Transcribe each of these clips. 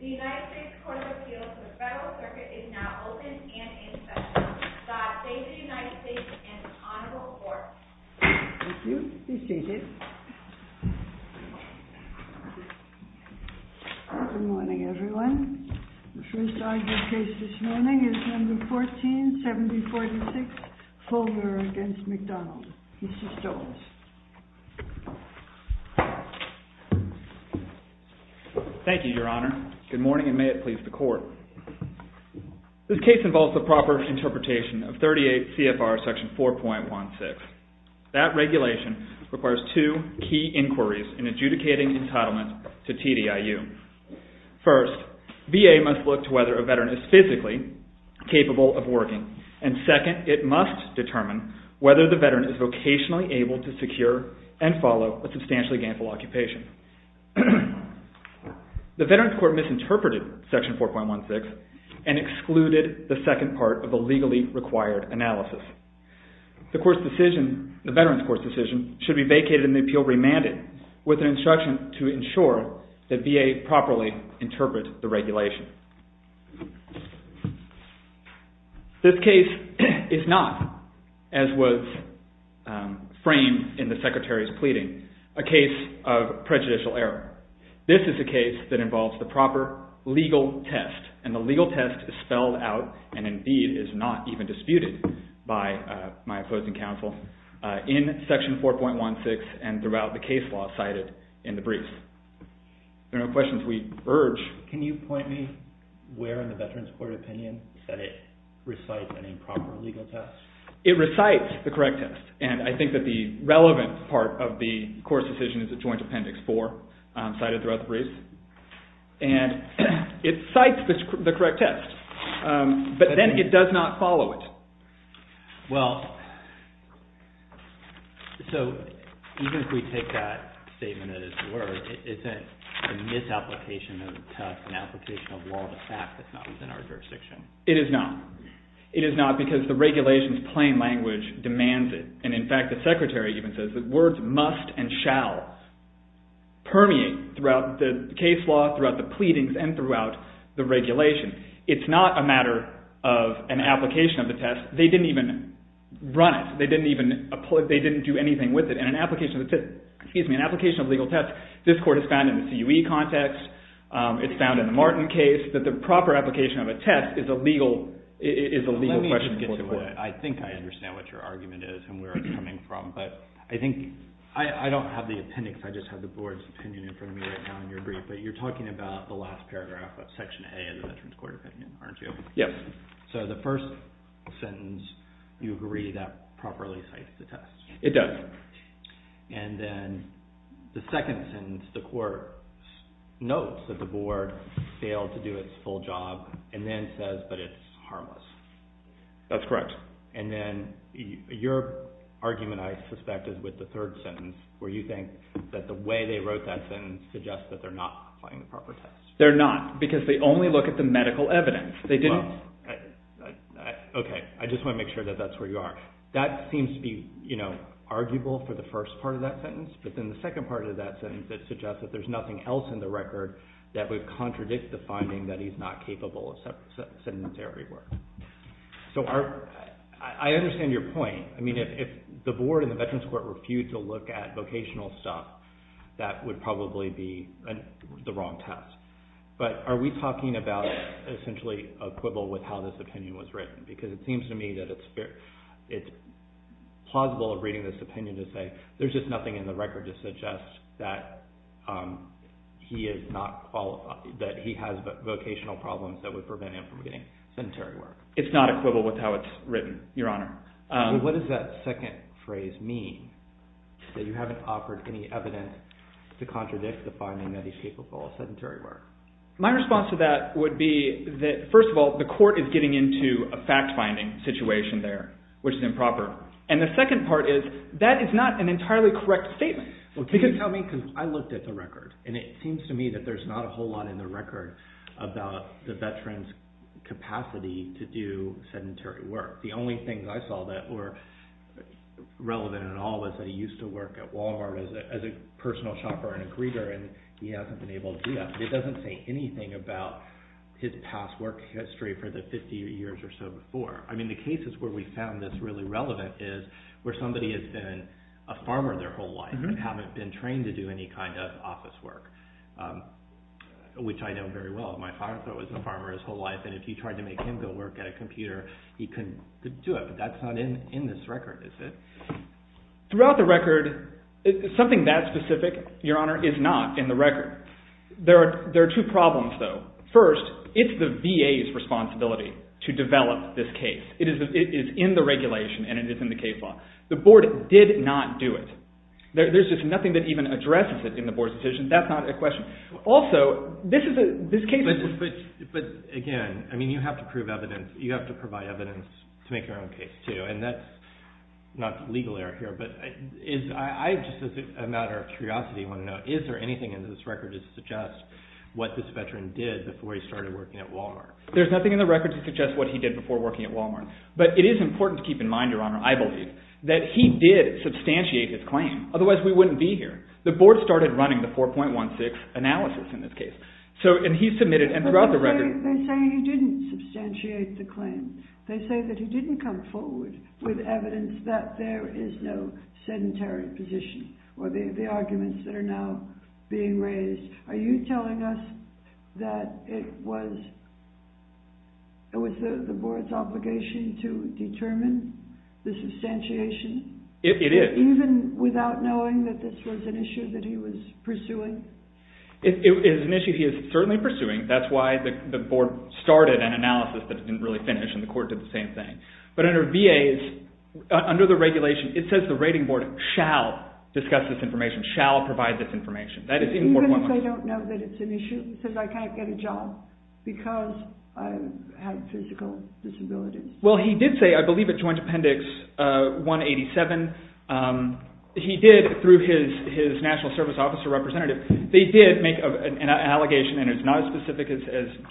The United States Court of Appeals for the Federal Circuit is now open and in session. The United States and Honorable Court. Thank you. Be seated. Good morning, everyone. The first argued case this morning is number 147046, Fulmer v. McDonald. Mr. Stokes. Thank you, Your Honor. Good morning and may it please the Court. This case involves the proper interpretation of 38 CFR section 4.16. That regulation requires two key inquiries in adjudicating entitlement to TDIU. First, VA must look to whether a veteran is physically capable of working. And second, it must determine whether the veteran is vocationally able to secure and follow a substantially gainful occupation. The Veterans Court misinterpreted section 4.16 and excluded the second part of the legally required analysis. The Veterans Court's decision should be vacated and the appeal remanded with an instruction to ensure that VA properly interprets the regulation. Thank you. This case is not, as was framed in the Secretary's pleading, a case of prejudicial error. This is a case that involves the proper legal test. And the legal test is spelled out and indeed is not even disputed by my opposing counsel in section 4.16 and throughout the case law cited in the brief. There are no questions we urge. Can you point me where in the Veterans Court opinion that it recites an improper legal test? It recites the correct test. And I think that the relevant part of the Court's decision is the Joint Appendix 4 cited throughout the brief. And it cites the correct test. But then it does not follow it. Well, so even if we take that statement as it were, isn't the misapplication of the test an application of law of the fact that's not within our jurisdiction? It is not. It is not because the regulation's plain language demands it. And, in fact, the Secretary even says that words must and shall permeate throughout the case law, throughout the pleadings, and throughout the regulation. It's not a matter of an application of the test. They didn't even run it. They didn't do anything with it. And an application of legal test, this Court has found in the CUE context. It's found in the Martin case that the proper application of a test is a legal question for the Court. Let me just get to it. I think I understand what your argument is and where it's coming from. But I think I don't have the appendix. I just have the Board's opinion in front of me right now in your brief. But you're talking about the last paragraph of Section A of the Veterans Court opinion, aren't you? Yes. So the first sentence, you agree that properly cites the test. It does. And then the second sentence, the Court notes that the Board failed to do its full job and then says that it's harmless. That's correct. And then your argument, I suspect, is with the third sentence where you think that the way they wrote that sentence suggests that they're not applying the proper test. They're not because they only look at the medical evidence. They didn't. Okay. I just want to make sure that that's where you are. That seems to be, you know, arguable for the first part of that sentence. But then the second part of that sentence that suggests that there's nothing else in the record that would contradict the finding that he's not capable of sentence error. So I understand your point. I mean, if the Board and the Veterans Court refute to look at vocational stuff, that would probably be the wrong test. But are we talking about essentially equivalent with how this opinion was written? Because it seems to me that it's plausible of reading this opinion to say there's just nothing in the record to suggest that he has vocational problems that would prevent him from getting sedentary work. It's not equivalent with how it's written, Your Honor. What does that second phrase mean, that you haven't offered any evidence to contradict the finding that he's capable of sedentary work? My response to that would be that, first of all, the court is getting into a fact-finding situation there, which is improper. And the second part is that is not an entirely correct statement. Well, can you tell me? Because I looked at the record, and it seems to me that there's not a whole lot in the record about the veteran's capacity to do sedentary work. The only things I saw that were relevant at all was that he used to work at Wal-Mart as a personal shopper and a greeter, and he hasn't been able to do that. But it doesn't say anything about his past work history for the 50 years or so before. I mean, the cases where we found this really relevant is where somebody has been a farmer their whole life and haven't been trained to do any kind of office work, which I know very well. My father was a farmer his whole life, and if you tried to make him go work at a computer, he couldn't do it. But that's not in this record, is it? Throughout the record, something that specific, Your Honor, is not in the record. There are two problems, though. First, it's the VA's responsibility to develop this case. It is in the regulation, and it is in the case law. The board did not do it. There's just nothing that even addresses it in the board's decision. That's not a question. But, again, I mean, you have to prove evidence. You have to provide evidence to make your own case, too, and that's not legal error here. But I, just as a matter of curiosity, want to know, is there anything in this record that suggests what this veteran did before he started working at Wal-Mart? There's nothing in the record to suggest what he did before working at Wal-Mart. But it is important to keep in mind, Your Honor, I believe, that he did substantiate his claim. Otherwise, we wouldn't be here. The board started running the 4.16 analysis in this case, and he submitted, and throughout the record— They say he didn't substantiate the claim. They say that he didn't come forward with evidence that there is no sedentary position or the arguments that are now being raised. Are you telling us that it was the board's obligation to determine the substantiation? It is. Even without knowing that this was an issue that he was pursuing? It is an issue he is certainly pursuing. That's why the board started an analysis that it didn't really finish, and the court did the same thing. But under VA, under the regulation, it says the rating board shall discuss this information, shall provide this information. That is in 4.16. Even if they don't know that it's an issue? It says I can't get a job because I have physical disabilities. Well, he did say, I believe at joint appendix 187, he did, through his national service officer representative, they did make an allegation, and it's not as specific as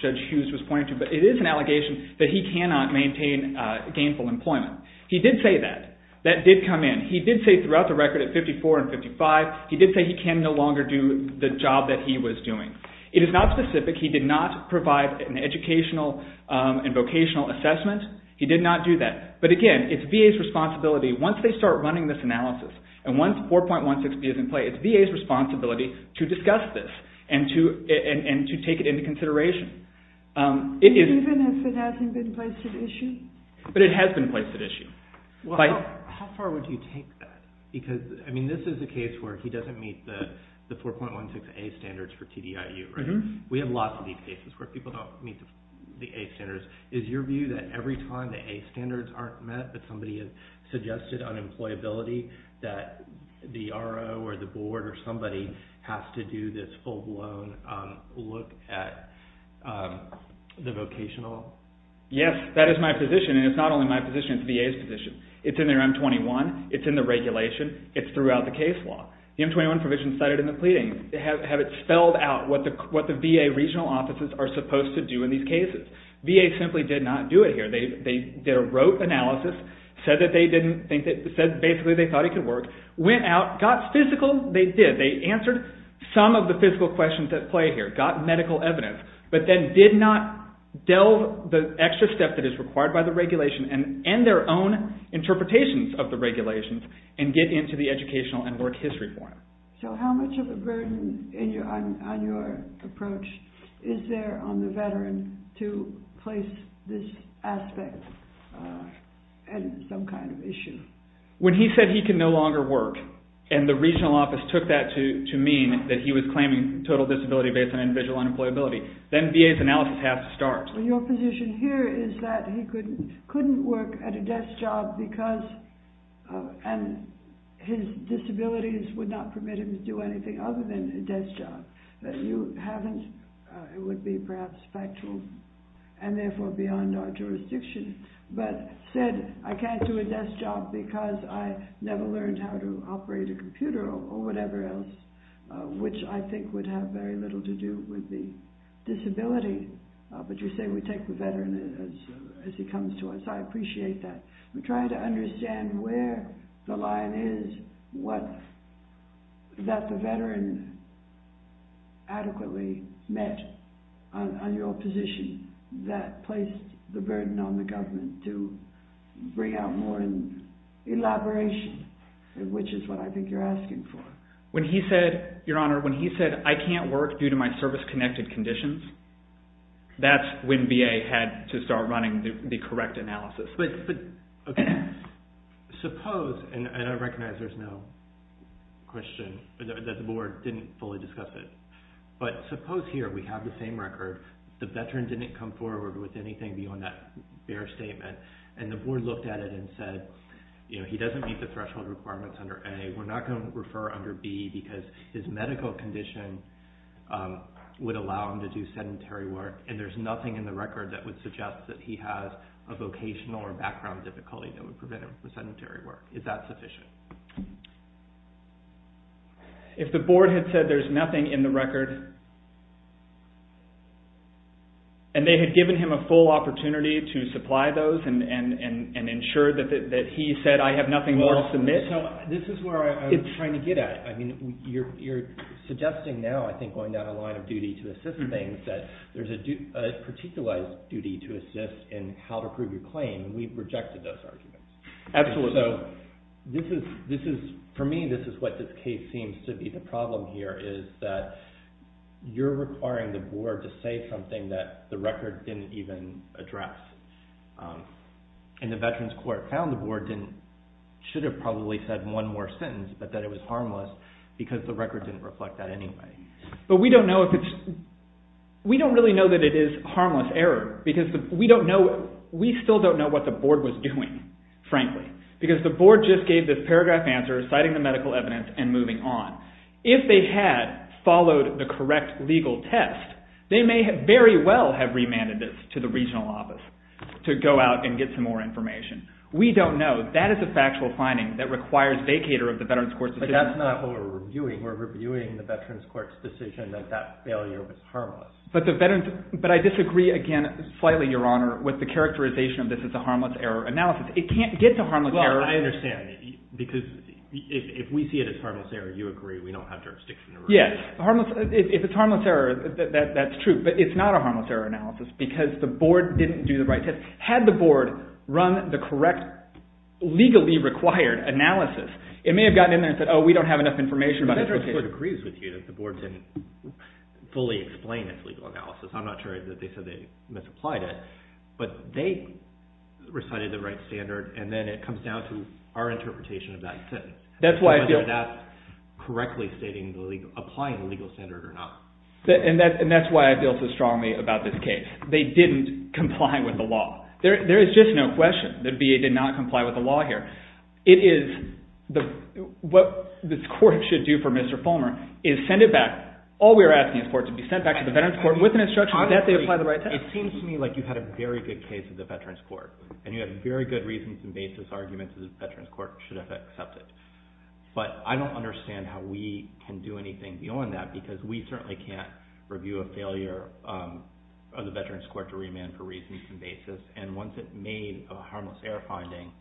Judge Hughes was pointing to, but it is an allegation that he cannot maintain gainful employment. He did say that. That did come in. He did say throughout the record at 54 and 55, he did say he can no longer do the job that he was doing. It is not specific. He did not provide an educational and vocational assessment. He did not do that. But again, it's VA's responsibility. Once they start running this analysis, and once 4.16 is in play, it's VA's responsibility to discuss this and to take it into consideration. Even if it hasn't been placed at issue? But it has been placed at issue. How far would you take that? Because, I mean, this is a case where he doesn't meet the 4.16A standards for TDIU, right? We have lots of these cases where people don't meet the A standards. Is your view that every time the A standards aren't met, that somebody has suggested unemployability, that the RO or the board or somebody has to do this full-blown look at the vocational? Yes, that is my position. And it's not only my position. It's VA's position. It's in their M21. It's in the regulation. It's throughout the case law. The M21 provision is cited in the pleading. Have it spelled out what the VA regional offices are supposed to do in these cases. VA simply did not do it here. They did a rote analysis, said basically they thought he could work, went out, got physical. They did. They answered some of the physical questions at play here, got medical evidence, but then did not delve the extra step that is required by the regulation and end their own interpretations of the regulations and get into the educational and work history form. So how much of a burden on your approach is there on the veteran to place this aspect as some kind of issue? When he said he can no longer work and the regional office took that to mean that he was claiming total disability based on individual unemployability, then VA's analysis has to start. Your position here is that he couldn't work at a desk job because his disabilities would not permit him to do anything other than a desk job. That you haven't, it would be perhaps factual and therefore beyond our jurisdiction, but said I can't do a desk job because I never learned how to operate a computer or whatever else, which I think would have very little to do with the disability. But you say we take the veteran as he comes to us. I appreciate that. We're trying to understand where the line is that the veteran adequately met on your position and that placed the burden on the government to bring out more elaboration, which is what I think you're asking for. When he said, your honor, when he said I can't work due to my service-connected conditions, that's when VA had to start running the correct analysis. But suppose, and I recognize there's no question that the board didn't fully discuss it, but suppose here we have the same record. The veteran didn't come forward with anything beyond that bare statement and the board looked at it and said he doesn't meet the threshold requirements under A. We're not going to refer under B because his medical condition would allow him to do sedentary work and there's nothing in the record that would suggest that he has a vocational or background difficulty that would prevent him from sedentary work. Is that sufficient? If the board had said there's nothing in the record and they had given him a full opportunity to supply those and ensure that he said I have nothing more to submit. This is where I'm trying to get at. You're suggesting now, I think going down a line of duty to assist in things, that there's a particular duty to assist in how to prove your claim. We've rejected those arguments. Absolutely. For me, this is what this case seems to be. The problem here is that you're requiring the board to say something that the record didn't even address. And the veterans court found the board should have probably said one more sentence but that it was harmless because the record didn't reflect that anyway. But we don't know if it's, we don't really know that it is harmless error because we still don't know what the board was doing, frankly, because the board just gave this paragraph answer citing the medical evidence and moving on. If they had followed the correct legal test, they may very well have remanded this to the regional office to go out and get some more information. We don't know. That is a factual finding that requires vacator of the veterans court's decision. But that's not what we're reviewing. We're reviewing the veterans court's decision that that failure was harmless. But the veterans, but I disagree again slightly, Your Honor, with the characterization of this as a harmless error analysis. It can't get to harmless error. Well, I understand. Because if we see it as harmless error, you agree we don't have jurisdiction to review it. Yes. If it's harmless error, that's true. But it's not a harmless error analysis because the board didn't do the right test. Had the board run the correct legally required analysis, it may have gotten in there and said, oh, we don't have enough information about this. The veterans court agrees with you that the board didn't fully explain its legal analysis. I'm not sure that they said they misapplied it. But they recited the right standard, and then it comes down to our interpretation of that sentence. Whether that's correctly stating the legal, applying the legal standard or not. And that's why I feel so strongly about this case. They didn't comply with the law. There is just no question that VA did not comply with the law here. What this court should do for Mr. Fulmer is send it back. All we are asking is for it to be sent back to the veterans court with an instruction that they apply the right test. It seems to me like you had a very good case at the veterans court. And you had very good reasons and basis arguments that the veterans court should have accepted. But I don't understand how we can do anything beyond that because we certainly can't review a failure of the veterans court to remand for reasons and basis. And once it made a harmless error finding,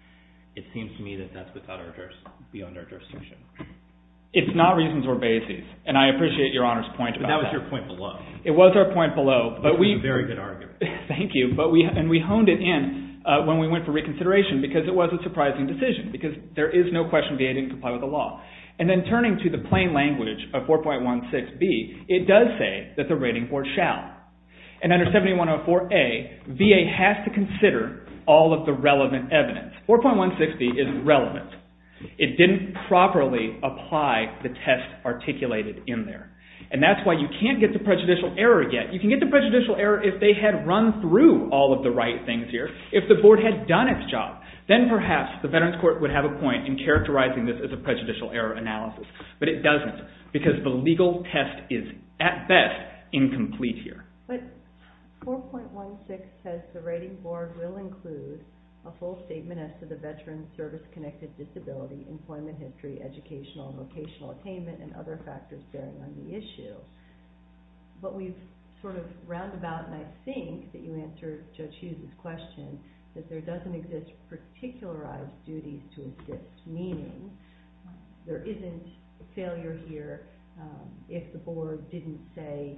it seems to me that that's beyond our jurisdiction. It's not reasons or basis. And I appreciate your Honor's point about that. But that was your point below. It was our point below. But it was a very good argument. Thank you. And we honed it in when we went for reconsideration because it was a surprising decision. Because there is no question VA didn't comply with the law. And then turning to the plain language of 4.16b, it does say that the rating board shall. And under 7104a, VA has to consider all of the relevant evidence. 4.160 is relevant. It didn't properly apply the test articulated in there. And that's why you can't get the prejudicial error yet. You can get the prejudicial error if they had run through all of the right things here, if the board had done its job. Then perhaps the veterans court would have a point in characterizing this as a prejudicial error analysis. But it doesn't. Because the legal test is, at best, incomplete here. But 4.16 says the rating board will include a full statement as to the veteran's service-connected disability, employment history, educational and vocational attainment, and other factors bearing on the issue. But we've sort of round about, and I think that you answered Judge Hughes' question, that there doesn't exist particularized duties to assist. Meaning there isn't failure here if the board didn't, say,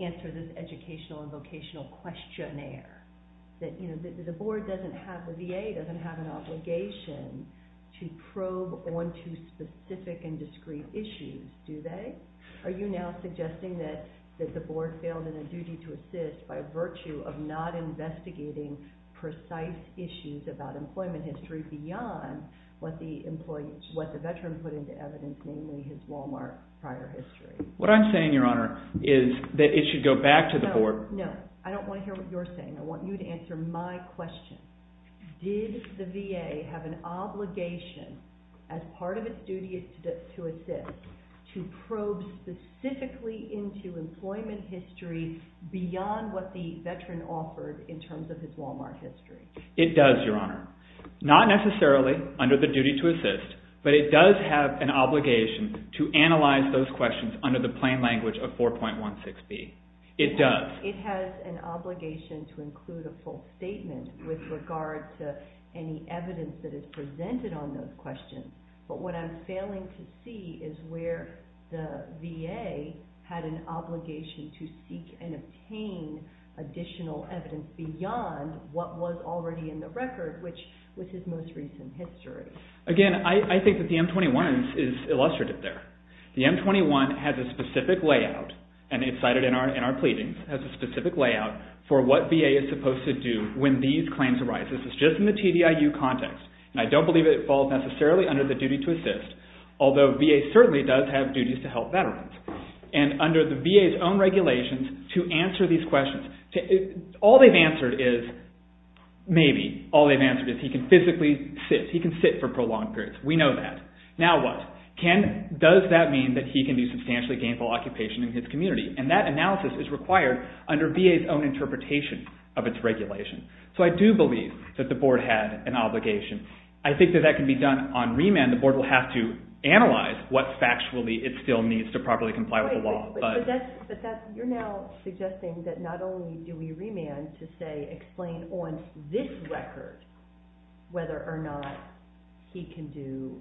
answer this educational and vocational questionnaire. The board doesn't have, the VA doesn't have an obligation to probe onto specific and discrete issues, do they? Are you now suggesting that the board failed in a duty to assist by virtue of not investigating precise issues about employment history beyond what the veteran put into evidence, namely his Walmart prior history? What I'm saying, Your Honor, is that it should go back to the board. No, no. I don't want to hear what you're saying. I want you to answer my question. Did the VA have an obligation as part of its duty to assist to probe specifically into employment history beyond what the veteran offered in terms of his Walmart history? It does, Your Honor. Not necessarily under the duty to assist, but it does have an obligation to analyze those questions under the plain language of 4.16b. It does. It has an obligation to include a full statement with regard to any evidence that is presented on those questions. But what I'm failing to see is where the VA had an obligation to seek and obtain additional evidence beyond what was already in the record, which was his most recent history. Again, I think that the M21 is illustrative there. The M21 has a specific layout, and it's cited in our pleadings, has a specific layout for what VA is supposed to do when these claims arise. This is just in the TDIU context, and I don't believe it falls necessarily under the duty to assist, although VA certainly does have duties to help veterans. And under the VA's own regulations to answer these questions, all they've answered is maybe. All they've answered is he can physically sit. He can sit for prolonged periods. We know that. Now what? Does that mean that he can do substantially gainful occupation in his community? And that analysis is required under VA's own interpretation of its regulation. So I do believe that the Board had an obligation. I think that that can be done on remand. Again, the Board will have to analyze what facts it still needs to properly comply with the law. But you're now suggesting that not only do we remand to, say, explain on this record whether or not he can do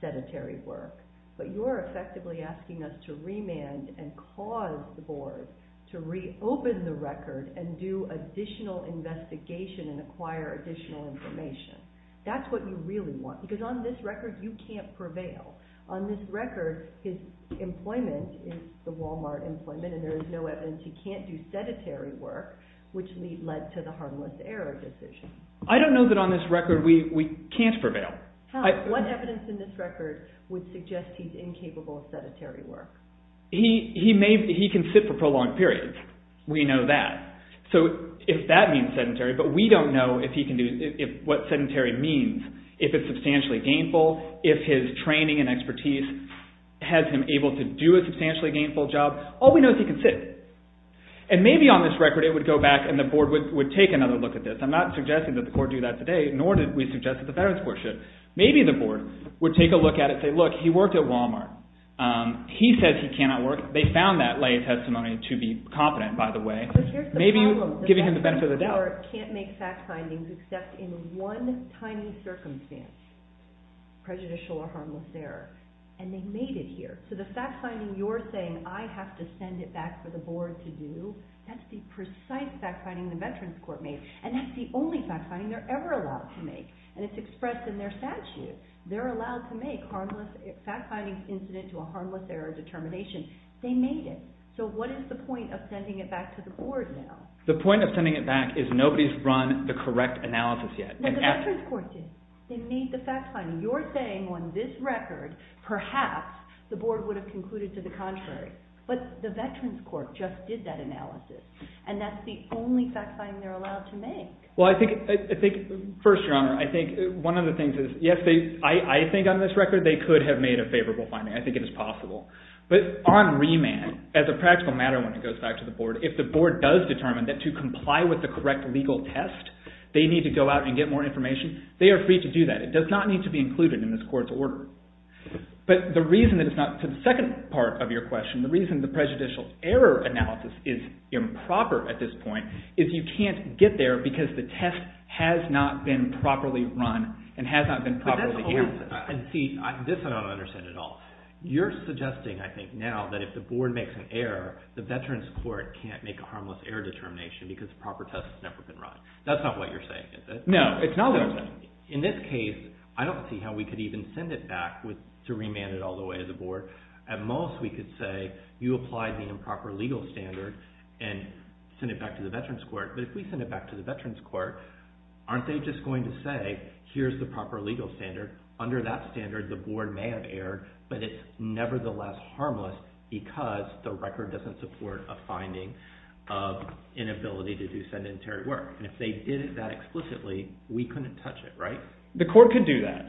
sedentary work, but you're effectively asking us to remand and cause the Board to reopen the record and do additional investigation and acquire additional information. That's what you really want, because on this record you can't prevail. On this record, his employment is the Walmart employment, and there is no evidence he can't do sedentary work, which led to the harmless error decision. I don't know that on this record we can't prevail. What evidence in this record would suggest he's incapable of sedentary work? He can sit for prolonged periods. We know that. So if that means sedentary, but we don't know what sedentary means, if it's substantially gainful, if his training and expertise has him able to do a substantially gainful job. All we know is he can sit. And maybe on this record it would go back and the Board would take another look at this. I'm not suggesting that the Court do that today, nor did we suggest that the Veterans Court should. Maybe the Board would take a look at it and say, look, he worked at Walmart. He says he cannot work. They found that lay testimony to be confident, by the way. Maybe you're giving him the benefit of the doubt. The Veterans Court can't make fact findings except in one tiny circumstance, prejudicial or harmless error, and they made it here. So the fact finding you're saying I have to send it back for the Board to do, that's the precise fact finding the Veterans Court made, and that's the only fact finding they're ever allowed to make. And it's expressed in their statute. They're allowed to make fact findings incident to a harmless error determination. They made it. So what is the point of sending it back to the Board now? The point of sending it back is nobody's run the correct analysis yet. No, the Veterans Court did. They made the fact finding. You're saying on this record perhaps the Board would have concluded to the contrary. But the Veterans Court just did that analysis, and that's the only fact finding they're allowed to make. Well, I think, first, Your Honor, I think one of the things is, yes, I think on this record they could have made a favorable finding. I think it is possible. But on remand, as a practical matter when it goes back to the Board, if the Board does determine that to comply with the correct legal test they need to go out and get more information, they are free to do that. It does not need to be included in this court's order. But the reason that it's not to the second part of your question, the reason the prejudicial error analysis is improper at this point is you can't get there because the test has not been properly run and has not been properly handled. And see, this I don't understand at all. You're suggesting, I think, now that if the Board makes an error, the Veterans Court can't make a harmless error determination because the proper test has never been run. That's not what you're saying, is it? No, it's not what I'm saying. In this case, I don't see how we could even send it back to remand it all the way to the Board. At most we could say you applied the improper legal standard and send it back to the Veterans Court. But if we send it back to the Veterans Court, aren't they just going to say here's the proper legal standard? Under that standard, the Board may have erred, but it's nevertheless harmless because the record doesn't support a finding of inability to do sedentary work. And if they did that explicitly, we couldn't touch it, right? The court could do that.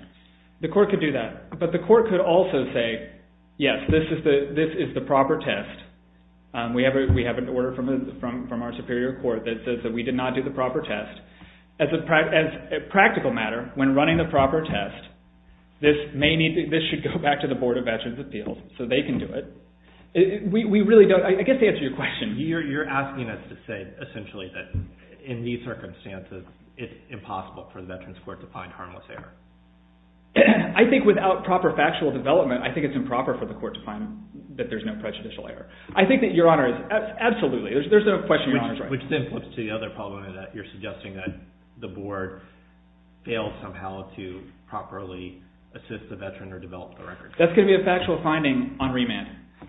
The court could do that. But the court could also say, yes, this is the proper test. We have an order from our superior court that says that we did not do the proper test. As a practical matter, when running the proper test, this should go back to the Board of Veterans Appeals so they can do it. I guess to answer your question. You're asking us to say essentially that in these circumstances, it's impossible for the Veterans Court to find harmless error. I think without proper factual development, I think it's improper for the court to find that there's no prejudicial error. I think that Your Honor is absolutely right. There's no question Your Honor is right. Which then flips to the other problem that you're suggesting that the board failed somehow to properly assist the veteran or develop the record. That's going to be a factual finding on remand.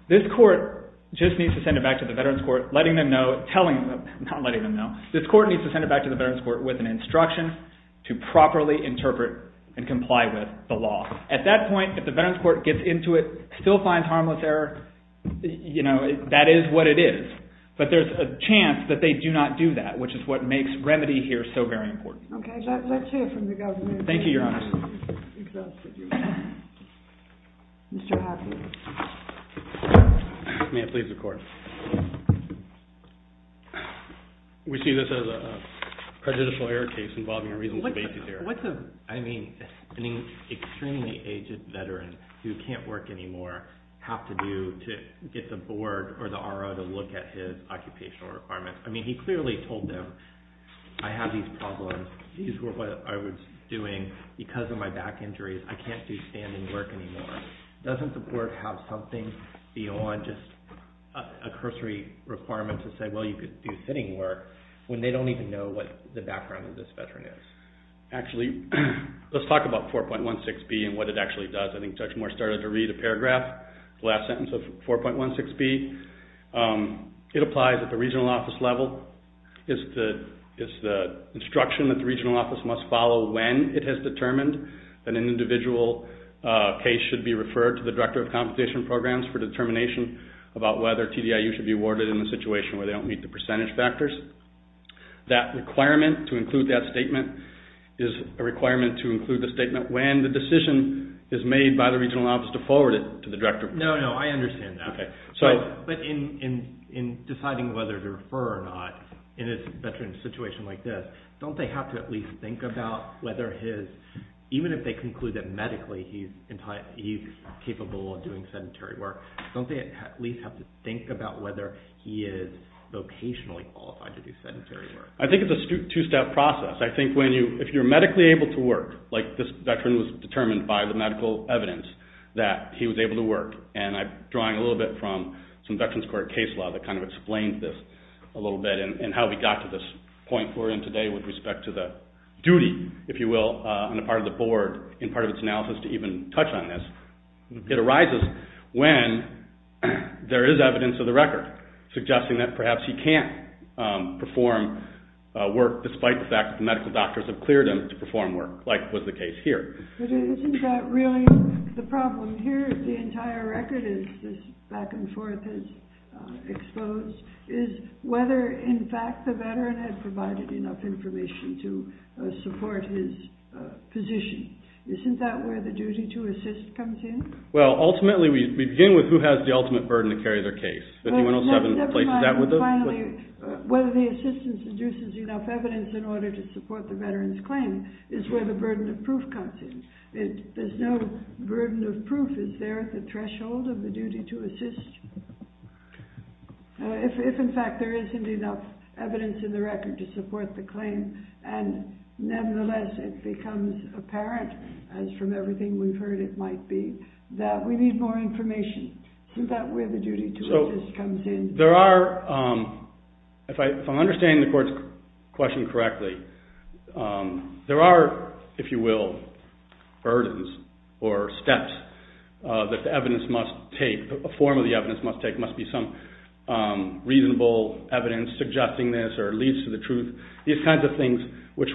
This court just needs to send it back to the Veterans Court, letting them know, telling them, not letting them know. This court needs to send it back to the Veterans Court with an instruction to properly interpret and comply with the law. At that point, if the Veterans Court gets into it, still finds harmless error, that is what it is. But there's a chance that they do not do that, which is what makes remedy here so very important. Okay. Let's hear from the Governor. Thank you, Your Honor. Mr. Hafford. May it please the Court. We see this as a prejudicial error case involving a reasonable basis error. What does, I mean, an extremely aged veteran who can't work anymore have to do to get the board or the RO to look at his occupational requirements? I mean, he clearly told them, I have these problems. These were what I was doing because of my back injuries. I can't do standing work anymore. Doesn't the board have something beyond just a cursory requirement to say, well, you could do sitting work when they don't even know what the background of this veteran is? Actually, let's talk about 4.16b and what it actually does. I think Judge Moore started to read a paragraph, the last sentence of 4.16b. It applies at the regional office level. It's the instruction that the regional office must follow when it has determined that an individual case should be referred to the Director of Compensation Programs for determination about whether TDIU should be awarded in a situation where they don't meet the percentage factors. That requirement to include that statement is a requirement to include the statement when the decision is made by the regional office to forward it to the Director. No, no, I understand that. But in deciding whether to refer or not in a veteran's situation like this, don't they have to at least think about whether his, even if they conclude that medically he's capable of doing sedentary work, don't they at least have to think about whether he is vocationally qualified to do sedentary work? I think it's a two-step process. I think if you're medically able to work, like this veteran was determined by the medical evidence that he was able to work, and I'm drawing a little bit from some Veterans Court case law that kind of explains this a little bit and how we got to this point we're in today with respect to the duty, if you will, on the part of the board in part of its analysis to even touch on this. It arises when there is evidence of the record suggesting that perhaps he can't perform work despite the fact that the medical doctors have cleared him to perform work, like was the case here. But isn't that really the problem here? The entire record is this back-and-forth is exposed, is whether in fact the veteran had provided enough information to support his position. Isn't that where the duty to assist comes in? Ultimately, we begin with who has the ultimate burden to carry their case. 5107 places that with us. Finally, whether the assistance induces enough evidence in order to support the veteran's claim is where the burden of proof comes in. There's no burden of proof is there at the threshold of the duty to assist. If in fact there isn't enough evidence in the record to support the claim and nevertheless it becomes apparent, as from everything we've heard it might be, that we need more information. Isn't that where the duty to assist comes in? If I understand the court's question correctly, there are, if you will, burdens or steps that the evidence must take, a form of the evidence must take, must be some reasonable evidence suggesting this or leads to the truth. These kinds of things which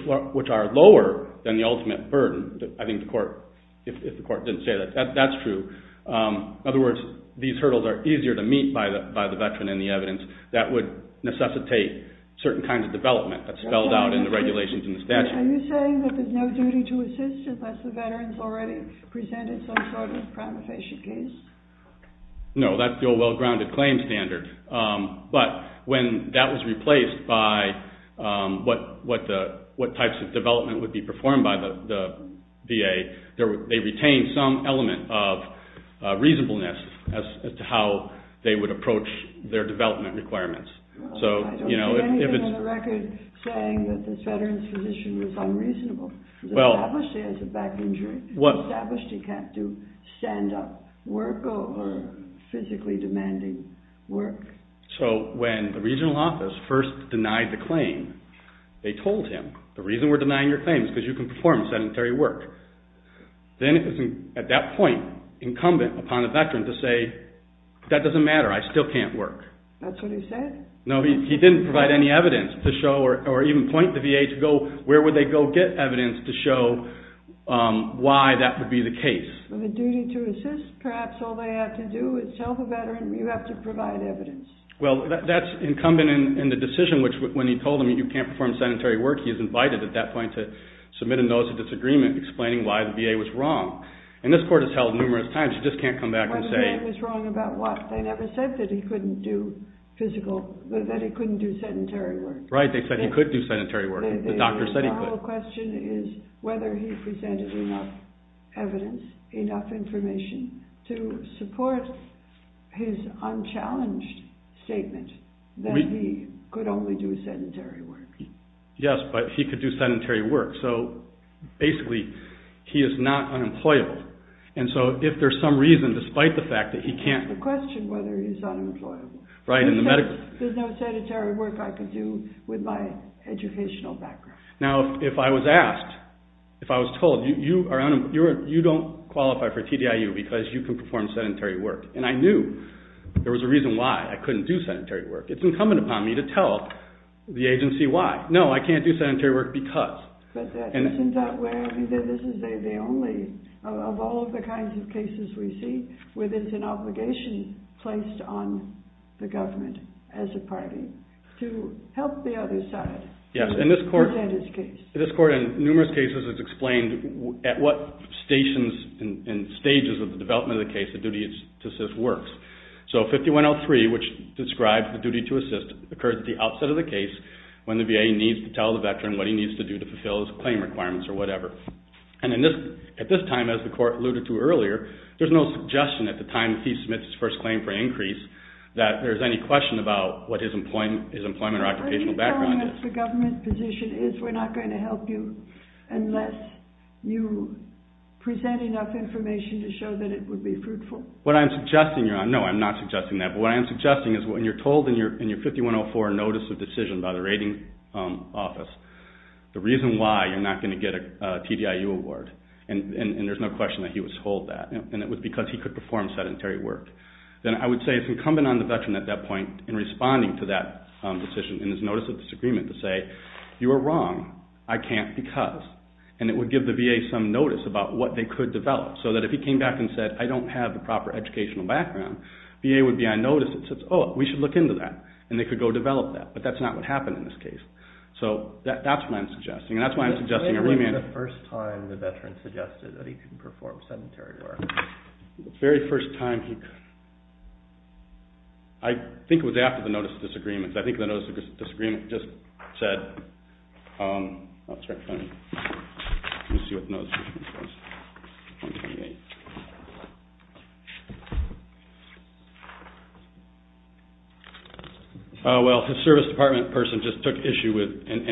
are lower than the ultimate burden. I think the court, if the court didn't say that, that's true. In other words, these hurdles are easier to meet by the veteran in the evidence that would necessitate certain kinds of development that's spelled out in the regulations and the statute. Are you saying that there's no duty to assist unless the veteran's already presented some sort of crime-of-patient case? No, that's the old well-grounded claim standard. But when that was replaced by what types of development would be performed by the VA, they retained some element of reasonableness as to how they would approach their development requirements. I don't see anything on the record saying that this veteran's position was unreasonable. Was it established as a back injury? Established he can't do stand-up work or physically demanding work. So when the regional office first denied the claim, they told him, the reason we're denying your claim is because you can perform sedentary work. Then at that point, incumbent upon the veteran to say, that doesn't matter, I still can't work. That's what he said? No, he didn't provide any evidence to show or even point the VA to go, where would they go get evidence to show why that would be the case? The duty to assist, perhaps all they have to do is tell the veteran, you have to provide evidence. Well, that's incumbent in the decision, which when he told them you can't perform sedentary work, he was invited at that point to submit a notice of disagreement explaining why the VA was wrong. And this court has held numerous times, you just can't come back and say... Why the VA was wrong about what? They never said that he couldn't do physical, that he couldn't do sedentary work. Right, they said he could do sedentary work. The question is whether he presented enough evidence, enough information to support his unchallenged statement that he could only do sedentary work. Yes, but he could do sedentary work. So, basically, he is not unemployable. And so, if there's some reason, despite the fact that he can't... That's the question, whether he's unemployable. Right. There's no sedentary work I can do with my educational background. Now, if I was asked, if I was told, you don't qualify for TDIU because you can perform sedentary work, and I knew there was a reason why I couldn't do sedentary work, it's incumbent upon me to tell the agency why. No, I can't do sedentary work because... This is the only of all the kinds of cases we see where there's an obligation placed on the government as a party to help the other side present his case. Yes, and this court in numerous cases has explained at what stations and stages of the development of the case the duty to assist works. So, 5103, which describes the duty to assist, occurs at the outset of the case when the VA needs to tell the veteran what he needs to do to fulfill his claim requirements or whatever. And at this time, as the court alluded to earlier, there's no suggestion at the time he submits his first claim for increase that there's any question about what his employment or occupational background is. The government position is we're not going to help you unless you present enough information to show that it would be fruitful. What I'm suggesting, no, I'm not suggesting that, but what I'm suggesting is when you're told in your 5104 notice of decision by the rating office the reason why you're not going to get a TDIU award, and there's no question that he was told that, and it was because he could perform sedentary work, then I would say it's incumbent on the veteran at that point in responding to that decision in his notice of disagreement to say, you were wrong, I can't because, and it would give the VA some notice about what they could develop so that if he came back and said, I don't have a proper educational background, VA would be on notice and say, oh, we should look into that, and they could go develop that, but that's not what happened in this case. So, that's what I'm suggesting, and that's why I'm suggesting a remand. When was the first time the veteran suggested that he could perform sedentary work? The very first time he could. I think it was after the notice of disagreement. I think the notice of disagreement just said, let me see what the notice of disagreement says. Oh, well, his service department person just took issue with, and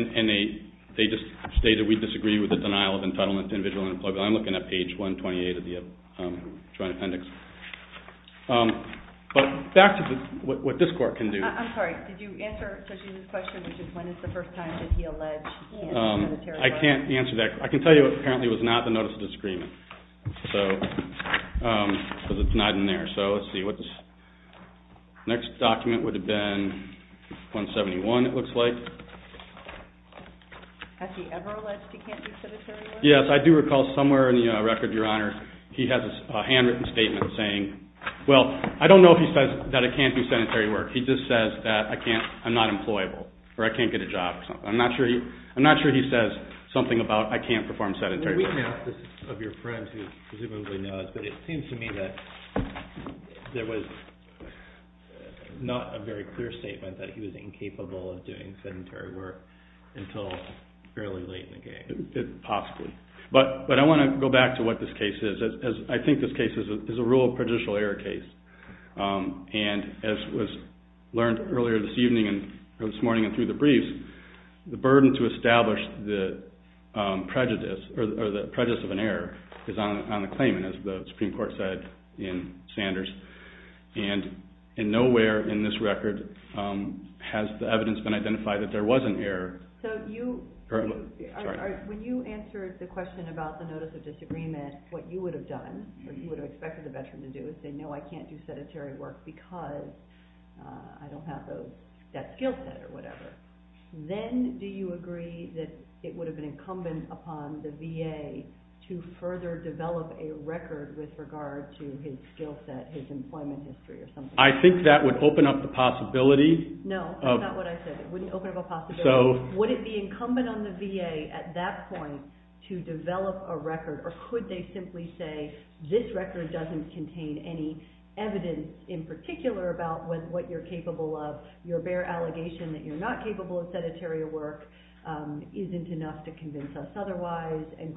they just stated, we disagree with the denial of entitlement to individual employment. I'm looking at page 128 of the Joint Appendix. But back to what this court can do. I'm sorry, did you answer Sushil's question, which is, when is the first time that he alleged that he could perform sedentary work? I can't answer that. I can tell you apparently it was not the notice of disagreement, because it's not in there. So, let's see. The next document would have been 171, it looks like. Has he ever alleged he can't do sedentary work? Yes, I do recall somewhere in the record, Your Honor, he has a handwritten statement saying, well, I don't know if he says that I can't do sedentary work. He just says that I'm not employable, or I can't get a job. I'm not sure he says something about I can't perform sedentary work. Well, we have, this is of your friends who presumably knows, but it seems to me that there was not a very clear statement that he was incapable of doing sedentary work until fairly late in the game. Possibly. But I want to go back to what this case is. I think this case is a rule of prejudicial error case. And as was learned earlier this morning and through the briefs, the burden to establish the prejudice of an error is on the claimant, as the Supreme Court said in Sanders. And nowhere in this record has the evidence been identified that there was an error. So when you answered the question about the notice of disagreement, what you would have done, what you would have expected the veteran to do, is say, no, I can't do sedentary work because I don't have that skill set or whatever. Then do you agree that it would have been incumbent upon the VA to further develop a record with regard to his skill set, his employment history or something? I think that would open up the possibility. No, that's not what I said. It wouldn't open up a possibility. Would it be incumbent on the VA at that point to develop a record, or could they simply say this record doesn't contain any evidence in particular about what you're capable of, your bare allegation that you're not capable of sedentary work isn't enough to convince us otherwise? And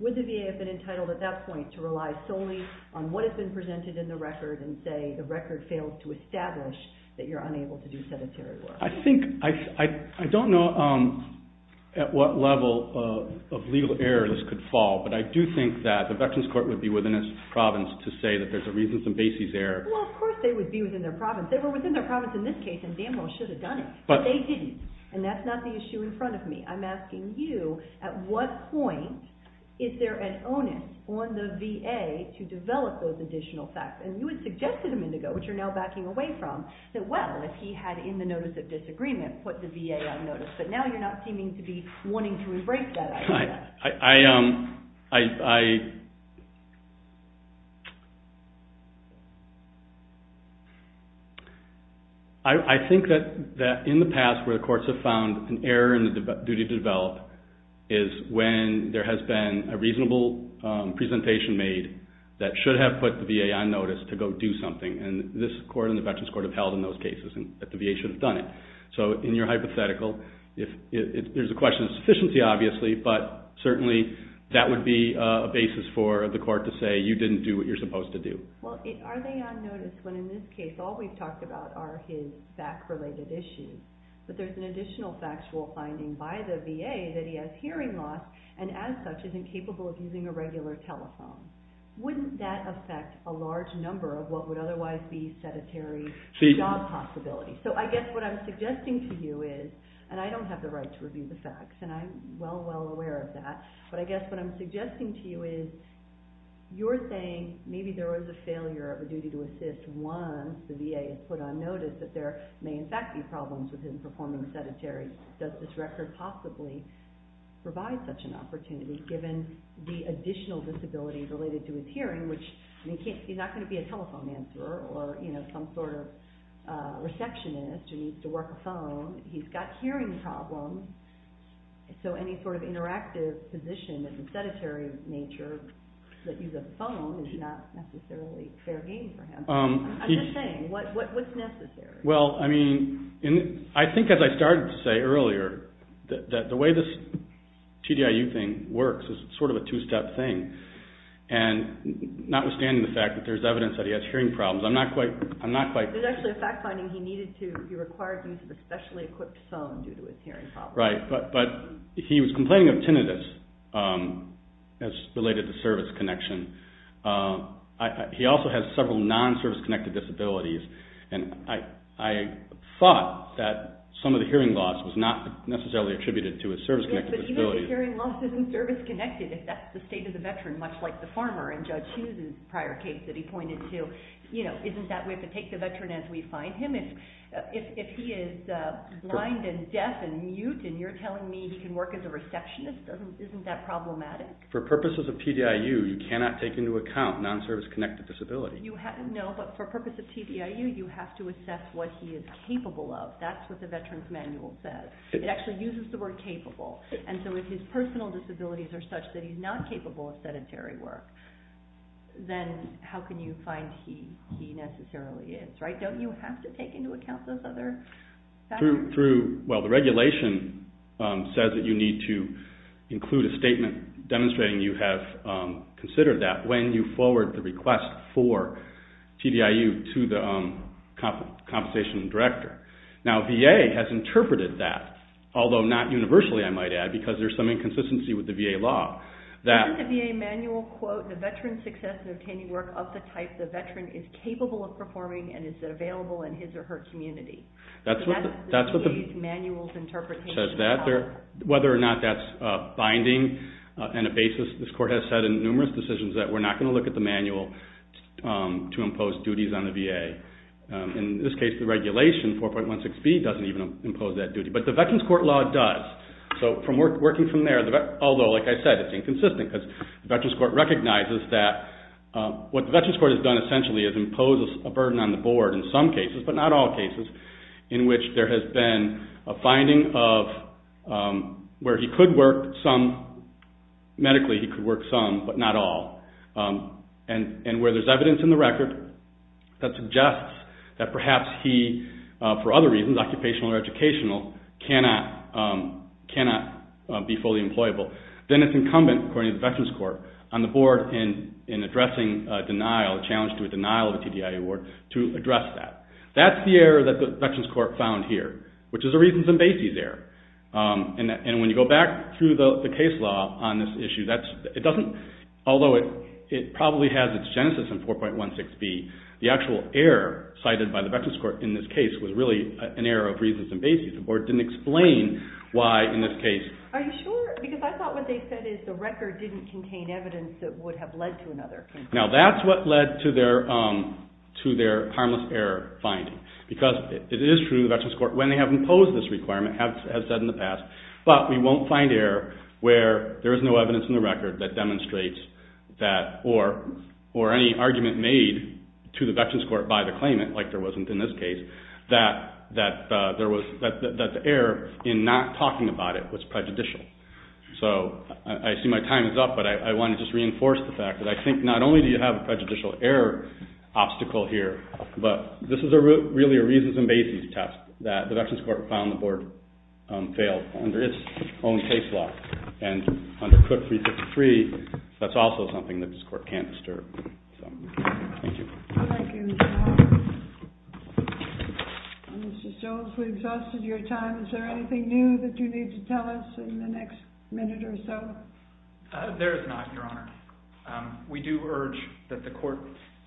would the VA have been entitled at that point to rely solely on what has been presented in the record and say the record failed to establish that you're unable to do sedentary work? I don't know at what level of legal error this could fall, but I do think that the Veterans Court would be within its province to say that there's a reason for Basie's error. Well, of course they would be within their province. They were within their province in this case and damn well should have done it, but they didn't. And that's not the issue in front of me. I'm asking you at what point is there an onus on the VA to develop those additional facts? And you had suggested a minute ago, which you're now backing away from, that well, if he had in the Notice of Disagreement put the VA on notice, but now you're not seeming to be wanting to erase that idea. I think that in the past where courts have found an error in the duty to develop is when there has been a reasonable presentation made that should have put the VA on notice to go do something. And this court and the Veterans Court have held in those cases that the VA should have done it. So in your hypothetical, there's a question of sufficiency obviously, but certainly that would be a basis for the court to say you didn't do what you're supposed to do. Well, are they on notice when in this case all we've talked about are his back-related issues? But there's an additional factual finding by the VA that he has hearing loss and as such is incapable of using a regular telephone. Wouldn't that affect a large number of what would otherwise be sedentary job possibilities? So I guess what I'm suggesting to you is, and I don't have the right to review the facts, and I'm well, well aware of that, but I guess what I'm suggesting to you is you're saying maybe there was a failure of a duty to assist once the VA has put on notice that there may in fact be problems with him performing sedentary. Does this record possibly provide such an opportunity given the additional disability related to his hearing, which he's not going to be a telephone answerer or some sort of receptionist who needs to work a phone. He's got hearing problems, so any sort of interactive position that's a sedentary nature that uses a phone is not necessarily fair game for him. I'm just saying, what's necessary? Well, I mean, I think as I started to say earlier, that the way this TDIU thing works is sort of a two-step thing. And notwithstanding the fact that there's evidence that he has hearing problems, I'm not quite... There's actually a fact finding he required use of a specially equipped phone due to his hearing problems. Right, but he was complaining of tinnitus as related to service connection. He also has several non-service-connected disabilities, and I thought that some of the hearing loss was not necessarily attributed to his service-connected disabilities. Yes, but even if hearing loss isn't service-connected, if that's the state of the veteran, much like the former in Judge Hughes' prior case that he pointed to, isn't that we have to take the veteran as we find him? If he is blind and deaf and mute and you're telling me he can work as a receptionist, isn't that problematic? For purposes of TDIU, you cannot take into account non-service-connected disabilities. No, but for purposes of TDIU, you have to assess what he is capable of. That's what the veteran's manual says. It actually uses the word capable. And so if his personal disabilities are such that he's not capable of sedentary work, then how can you find he necessarily is, right? Don't you have to take into account those other factors? Well, the regulation says that you need to include a statement demonstrating you have considered that when you forward the request for TDIU to the compensation director. Now, VA has interpreted that, although not universally, I might add, because there's some inconsistency with the VA law. Isn't the VA manual, quote, the veteran's success in obtaining work of the type the veteran is capable of performing and is available in his or her community? That's what the VA's manual's interpretation says. Whether or not that's binding and a basis, this court has said in numerous decisions that we're not going to look at the manual to impose duties on the VA. In this case, the regulation, 4.16b, doesn't even impose that duty. But the veteran's court law does. So working from there, although, like I said, it's inconsistent because the veteran's court recognizes that what the veteran's court has done essentially is impose a burden on the board in some cases, but not all cases, in which there has been a finding of where he could work some, medically he could work some, but not all, and where there's evidence in the record that suggests that perhaps he, for other reasons, occupational or educational, cannot be fully employable. Then it's incumbent, according to the veteran's court, on the board in addressing a challenge to a denial of a TDI award to address that. That's the error that the veteran's court found here, which is a reasons and basis error. And when you go back through the case law on this issue, although it probably has its genesis in 4.16b, the actual error cited by the veteran's court in this case was really an error of reasons and basis. The board didn't explain why, in this case. Are you sure? Because I thought what they said is the record didn't contain evidence that would have led to another conclusion. Now that's what led to their harmless error finding. Because it is true, the veteran's court, when they have imposed this requirement, has said in the past, but we won't find error where there is no evidence in the record that demonstrates that, or any argument made to the veteran's court by the claimant, like there wasn't in this case, that the error in not talking about it was prejudicial. So I see my time is up, but I want to just reinforce the fact that I think not only do you have a prejudicial error obstacle here, but this is really a reasons and basis test that the veteran's court found the board failed under its own case law. And under Cook 363, that's also something that this court can't disturb. Thank you. Thank you. Mr. Stokes, we've exhausted your time. Is there anything new that you need to tell us in the next minute or so? There is not, Your Honor. We do urge that the court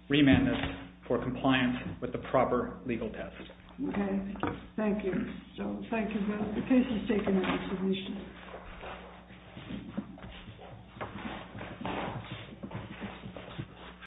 remand us for compliance with the proper legal test. Okay. Thank you. Thank you. The case is taken at resolution.